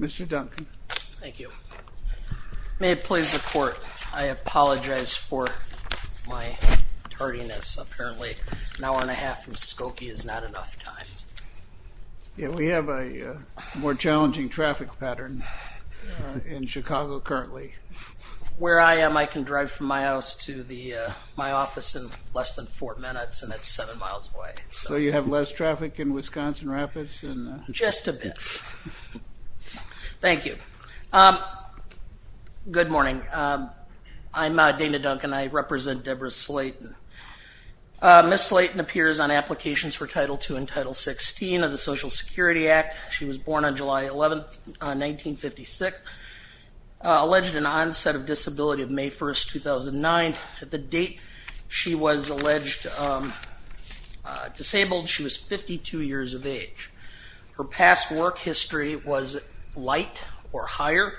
Mr. Duncan. Thank you. May it please the Court, I apologize for my tardiness. Apparently an hour and a half from Skokie is not enough time. Yeah, we have a more challenging traffic pattern in Chicago currently. Where I am, I can drive from my house to my office in less than four minutes and that's seven miles away. So you have less traffic in Wisconsin Rapids? Just a bit. Thank you. Good morning. I'm Dana Duncan. I represent Deborah Slayton. Ms. Slayton appears on applications for Title II and Title XVI of the Social Security Act. She was born on July 11th, 1956. Alleged an onset of disability of May 1st, 2009. At the date she was alleged disabled, she was 52 years of age. Her past work history was light or higher,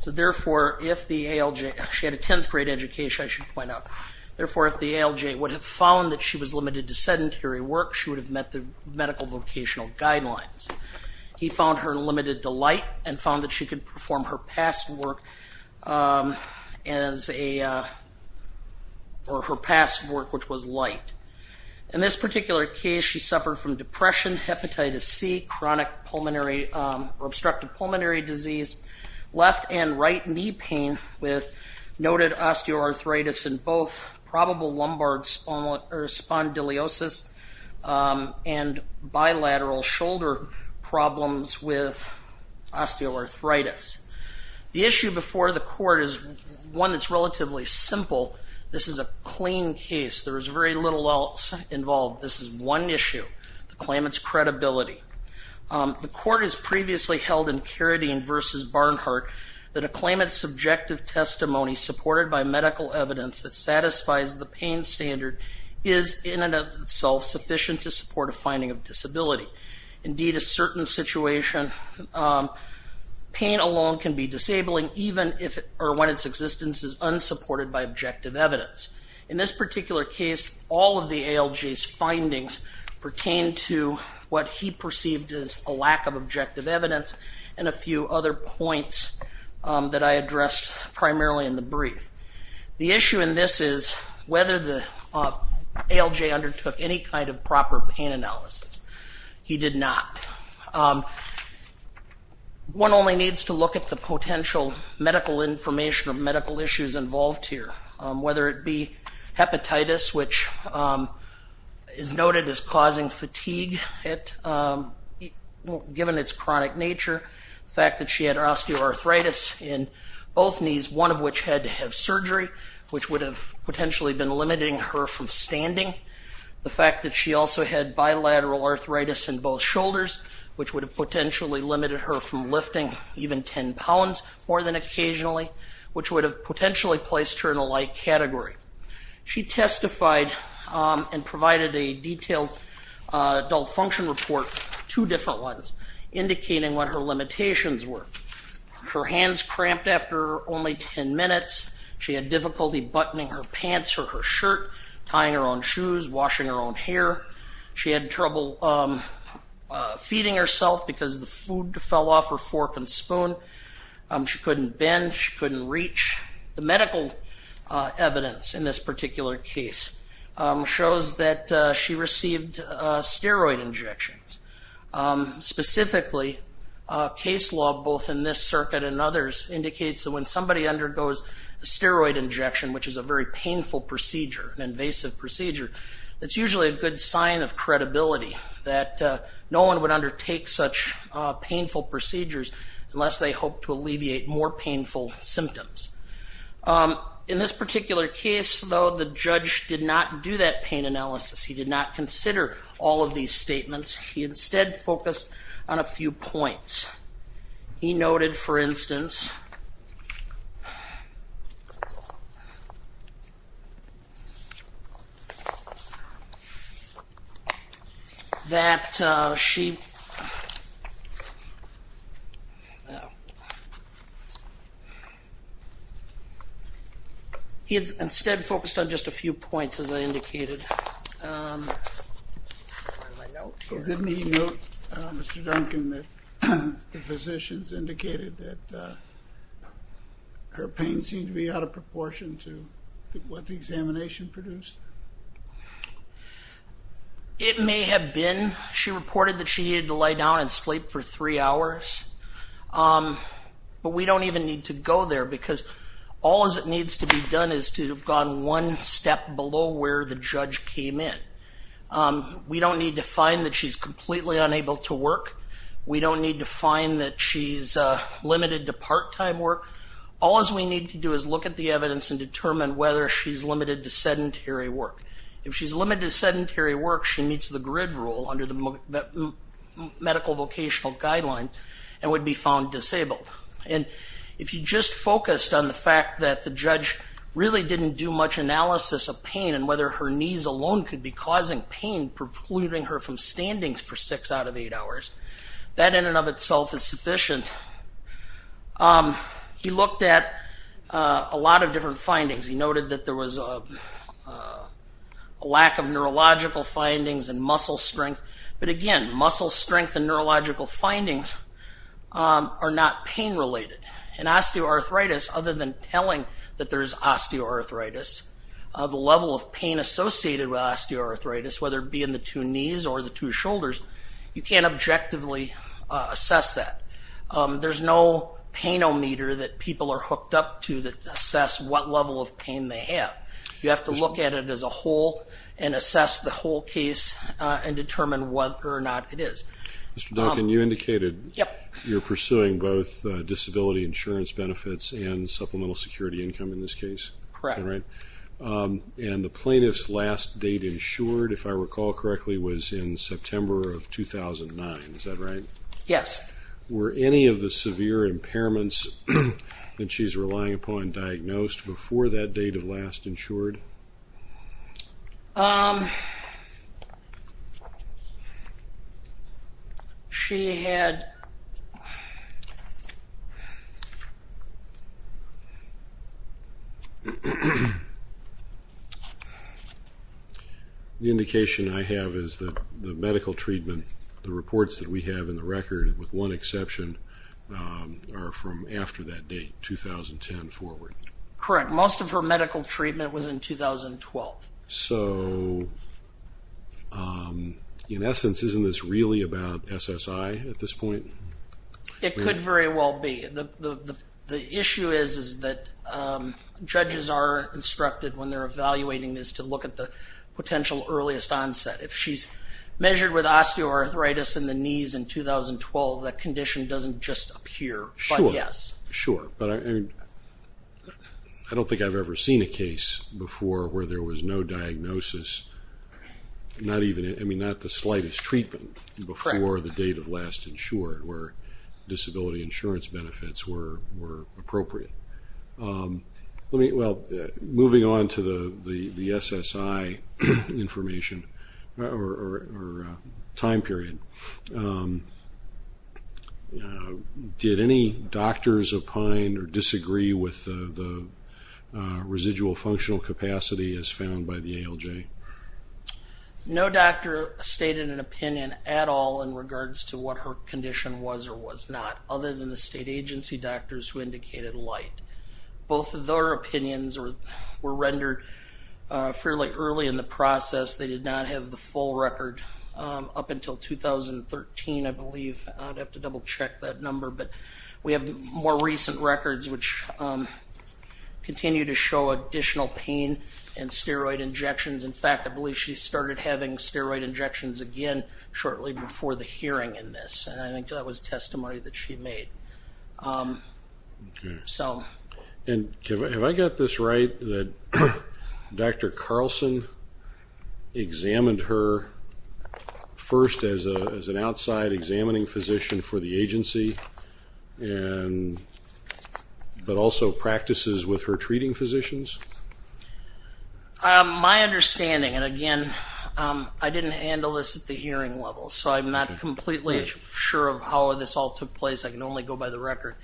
so therefore if the ALJ, she had a 10th grade education, I should point out, therefore if the ALJ would have found that she was limited to sedentary work, she would have met the medical vocational guidelines. He found her limited to light and found that she could perform her past work as or her past work which was light. In this particular case she suffered from depression, hepatitis C, chronic pulmonary or obstructive pulmonary disease, left and right knee pain with noted osteoarthritis and both probable lumbar spondylosis and bilateral shoulder problems with osteoarthritis. The issue before the court is one that's relatively simple. This is a clean case. There is very little else involved. This is one issue, the claimant's credibility. The court has previously held in Carradine v. Barnhart that a claimant's subjective testimony supported by medical evidence that satisfies the pain standard is in and of itself sufficient to support a finding of disabling even if or when its existence is unsupported by objective evidence. In this particular case all of the ALJ's findings pertain to what he perceived as a lack of objective evidence and a few other points that I addressed primarily in the brief. The issue in this is whether the ALJ undertook any kind of proper pain analysis. He did not. One only needs to look at the potential medical information or medical issues involved here, whether it be hepatitis, which is noted as causing fatigue given its chronic nature, the fact that she had osteoarthritis in both knees, one of which had to have surgery, which would have potentially been limiting her from standing, the fact that she also had bilateral arthritis in both shoulders, which would have potentially limited her from lifting even 10 pounds more than occasionally, which would have potentially placed her in a light category. She testified and provided a detailed adult function report, two different ones, indicating what her limitations were. Her hands cramped after only 10 minutes, she had difficulty buttoning her pants or her shirt, tying her own shoes, washing her own hair, she had trouble feeding herself because the food fell off her fork and spoon, she couldn't bend, she couldn't reach. The medical evidence in this particular case shows that she received steroid injections. Specifically, case law both in this circuit and others indicates that when somebody undergoes a steroid injection, which is a very painful procedure, an invasive procedure, it's usually a good sign of credibility that no one would undertake such painful procedures unless they hope to alleviate more painful symptoms. In this particular case, though, the judge did not do that pain analysis. He did not consider all of these statements. He instead focused on a He noted, for instance, that she he had instead focused on just a few points as I indicated. Didn't he note, Mr. Duncan, that the physicians indicated that her pain seemed to be out of proportion to what the examination produced? It may have been. She reported that she needed to lay down and sleep for three hours, but we don't even need to go there because all that needs to be done is to have gone one step below where the judge came in. We don't need to find that she's completely unable to work. We don't need to find that she's limited to part-time work. All we need to do is look at the evidence and determine whether she's limited to sedentary work. If she's limited to sedentary work, she meets the grid rule under the medical vocational guideline and would be found disabled. If you just focused on the fact that the judge really didn't do much analysis of pain and whether her knees alone could be causing pain, precluding her from standings for six out of eight hours, that in and of itself is sufficient. He looked at a lot of different findings. He noted that there was a lack of muscle strength and neurological findings are not pain-related. In osteoarthritis, other than telling that there is osteoarthritis, the level of pain associated with osteoarthritis, whether it be in the two knees or the two shoulders, you can't objectively assess that. There's no pain-o-meter that people are hooked up to that assess what level of pain they have. You have to look at it as a whole and assess the whole case and determine whether or not it is. Mr. Duncan, you indicated you're pursuing both disability insurance benefits and supplemental security income in this case? Correct. And the plaintiff's last date insured, if I recall correctly, was in September of 2009, is that right? Yes. Were any of the severe impairments that she's relying upon diagnosed before that date of last insured? The indication I have is that the medical treatment, the reports that we have in the record, with one exception, are from after that date, 2010 forward. Correct. Most of her medical treatment was in 2012. So, in essence, isn't this really about SSI at this point? It could very well be. The issue is that judges are instructed when they're evaluating this to look at the potential earliest onset. If she's measured with osteoarthritis in the knees in 2012, that condition doesn't just appear, but yes. Sure, but I don't think I've ever seen a case before where there was no diagnosis, not even, I mean, not the slightest treatment before the date of last insured where disability insurance benefits were appropriate. Let me, well, moving on to the SSI information or time period, did any doctors opine or disagree with the residual functional capacity as found by the ALJ? No doctor stated an opinion at all in regards to what her condition was or was not, other than the state agency doctors who indicated light. Both of their opinions were rendered fairly early in the process. They did not have the full record up until 2013, I believe. I'd have to double-check that number, but we have more recent records which continue to show additional pain and steroid injections. In fact, I believe she started having steroid injections again shortly before the hearing in this, and I think that was testimony that she made. And have I got this right that Dr. Carlson examined her first as an outside examining physician for the agency, but also practices with her treating physicians? My understanding, and again, I didn't handle this at the time, so I'm not completely sure of how this all took place. I can only go by the record.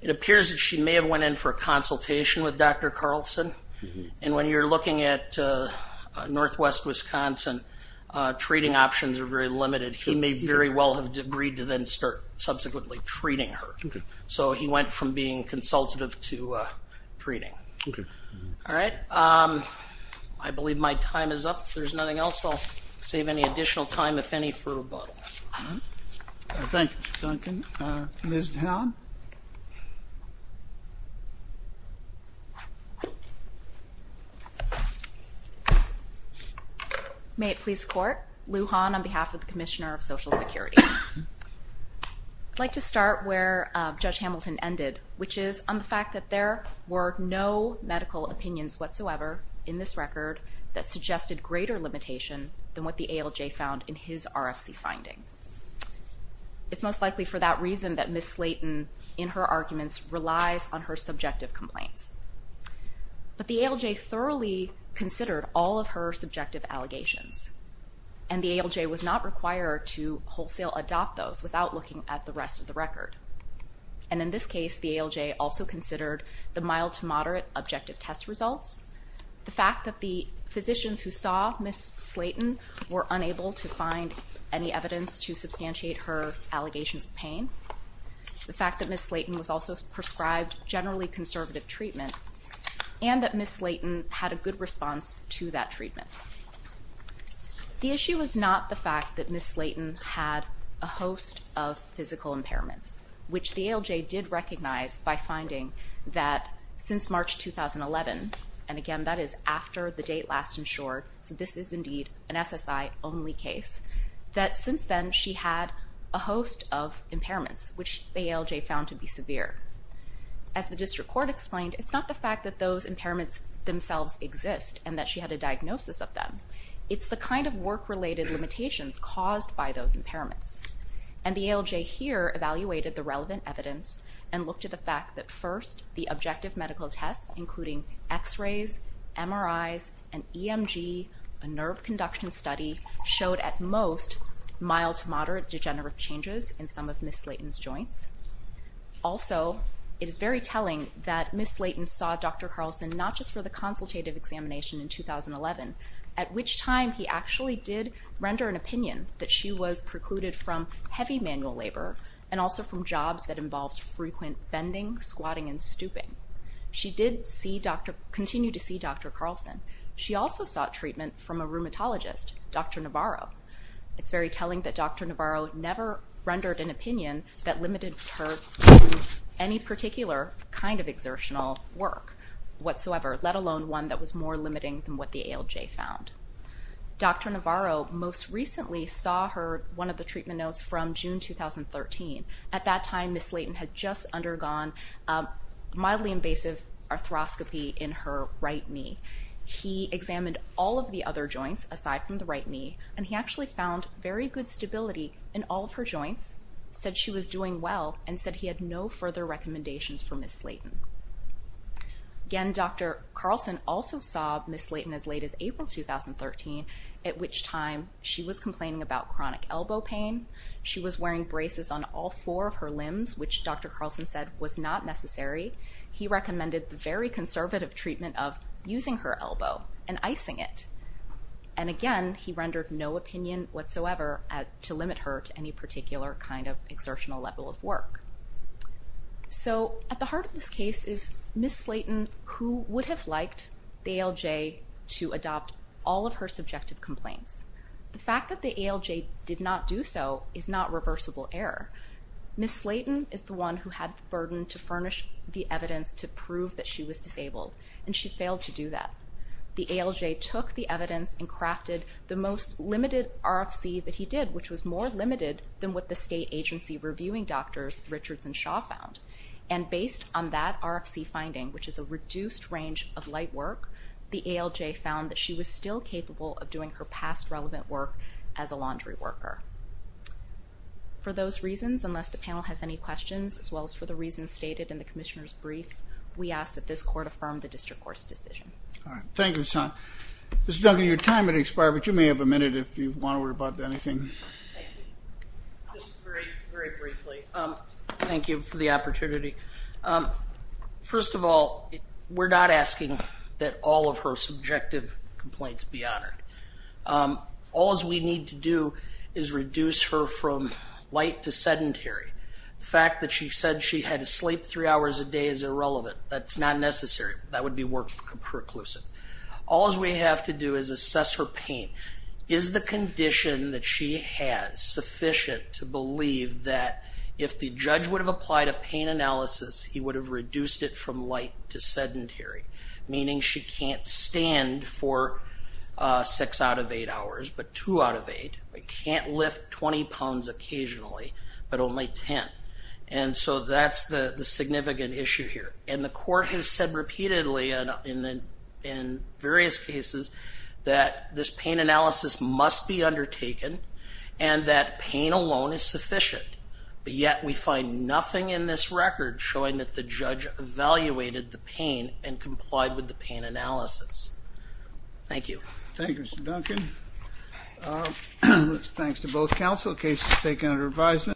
It appears that she may have went in for a consultation with Dr. Carlson, and when you're looking at Northwest Wisconsin, treating options are very limited. He may very well have agreed to then start subsequently treating her. So he went from being consultative to treating. All right, I believe my time is up. If there's nothing else, I'll save any additional time, if any, for rebuttal. Thank you, Mr. Duncan. Ms. Dowd? May it please the Court. Lou Hahn on behalf of the Commissioner of Social Security. I'd like to start where Judge Hamilton ended, which is on the fact that there were no medical opinions whatsoever in this record that suggested greater limitation than what the ALJ found in his RFC finding. It's most likely for that reason that Ms. Slayton, in her arguments, relies on her subjective complaints. But the ALJ thoroughly considered all of her subjective allegations, and the ALJ was not required to wholesale adopt those without looking at the rest of the record. And in this case, the ALJ also considered the mild to moderate objective test results, the fact that the physicians who saw Ms. Slayton were unable to find any evidence to substantiate her allegations of pain, the fact that Ms. Slayton was also prescribed generally conservative treatment, and that Ms. Slayton had a good response to that treatment. The issue is not the fact that Ms. Slayton had a host of physical impairments, which the ALJ did recognize by finding that since March 2011, and again, that is after the date last insured, so this is indeed an SSI only case, that since then she had a host of impairments, which the ALJ found to be severe. As the district court explained, it's not the fact that those impairments themselves exist and that she had a diagnosis of them. It's the kind of work-related limitations caused by those impairments. And the ALJ here evaluated the relevant evidence and looked at the fact that first, the objective medical tests, including x-rays, MRIs, and EMG, a nerve conduction study, showed at most mild to moderate degenerative changes in some of Ms. Slayton's joints. Also, it is very telling that Ms. Slayton saw Dr. Carlson not just for the consultative examination in that she was precluded from heavy manual labor and also from jobs that involved frequent bending, squatting, and stooping. She did continue to see Dr. Carlson. She also sought treatment from a rheumatologist, Dr. Navarro. It's very telling that Dr. Navarro never rendered an opinion that limited her to any particular kind of exertional work whatsoever, let alone one that was more limiting than what the ALJ found. Dr. Navarro most recently saw her one of the treatment notes from June 2013. At that time, Ms. Slayton had just undergone mildly invasive arthroscopy in her right knee. He examined all of the other joints aside from the right knee, and he actually found very good stability in all of her joints, said she was doing well, and said he had no further recommendations for Ms. Slayton. Again, Dr. Carlson also saw Ms. Slayton in June 2013, at which time she was complaining about chronic elbow pain. She was wearing braces on all four of her limbs, which Dr. Carlson said was not necessary. He recommended the very conservative treatment of using her elbow and icing it, and again, he rendered no opinion whatsoever to limit her to any particular kind of exertional level of work. So at the heart of this case is Ms. Slayton, who would have liked the ALJ to adopt all of her subjective complaints. The fact that the ALJ did not do so is not reversible error. Ms. Slayton is the one who had the burden to furnish the evidence to prove that she was disabled, and she failed to do that. The ALJ took the evidence and crafted the most limited RFC that he did, which was more limited than what the state agency reviewing doctors Richards and Shaw found, and based on that RFC finding, which is a reduced range of light work, the ALJ found that she was still capable of doing her past relevant work as a laundry worker. For those reasons, unless the panel has any questions, as well as for the reasons stated in the Commissioner's brief, we ask that this court affirm the district court's decision. Thank you, Ms. Hunt. Ms. Duncan, your time is expiring, but you may have a minute if you want to worry about anything. Just very briefly, thank you for the opportunity. First of all, we're not asking that all of her subjective complaints be honored. All we need to do is reduce her from light to sedentary. The fact that she said she had to sleep three hours a day is irrelevant. That's not necessary. That would be work perclusive. All we have to do is assess her pain. Is the condition that she has sufficient to believe that if the judge would have applied a pain analysis, he would have reduced it from light to sedentary, meaning she can't stand for six out of eight hours, but two out of eight. She can't lift 20 pounds occasionally, but only 10. And so that's the significant issue here. And the court has said repeatedly in various cases that this pain analysis must be and that pain alone is sufficient, but yet we find nothing in this record showing that the judge evaluated the pain and complied with the pain analysis. Thank you. Thank you, Mr. Duncan. Thanks to both counsel. Case is taken under advisement.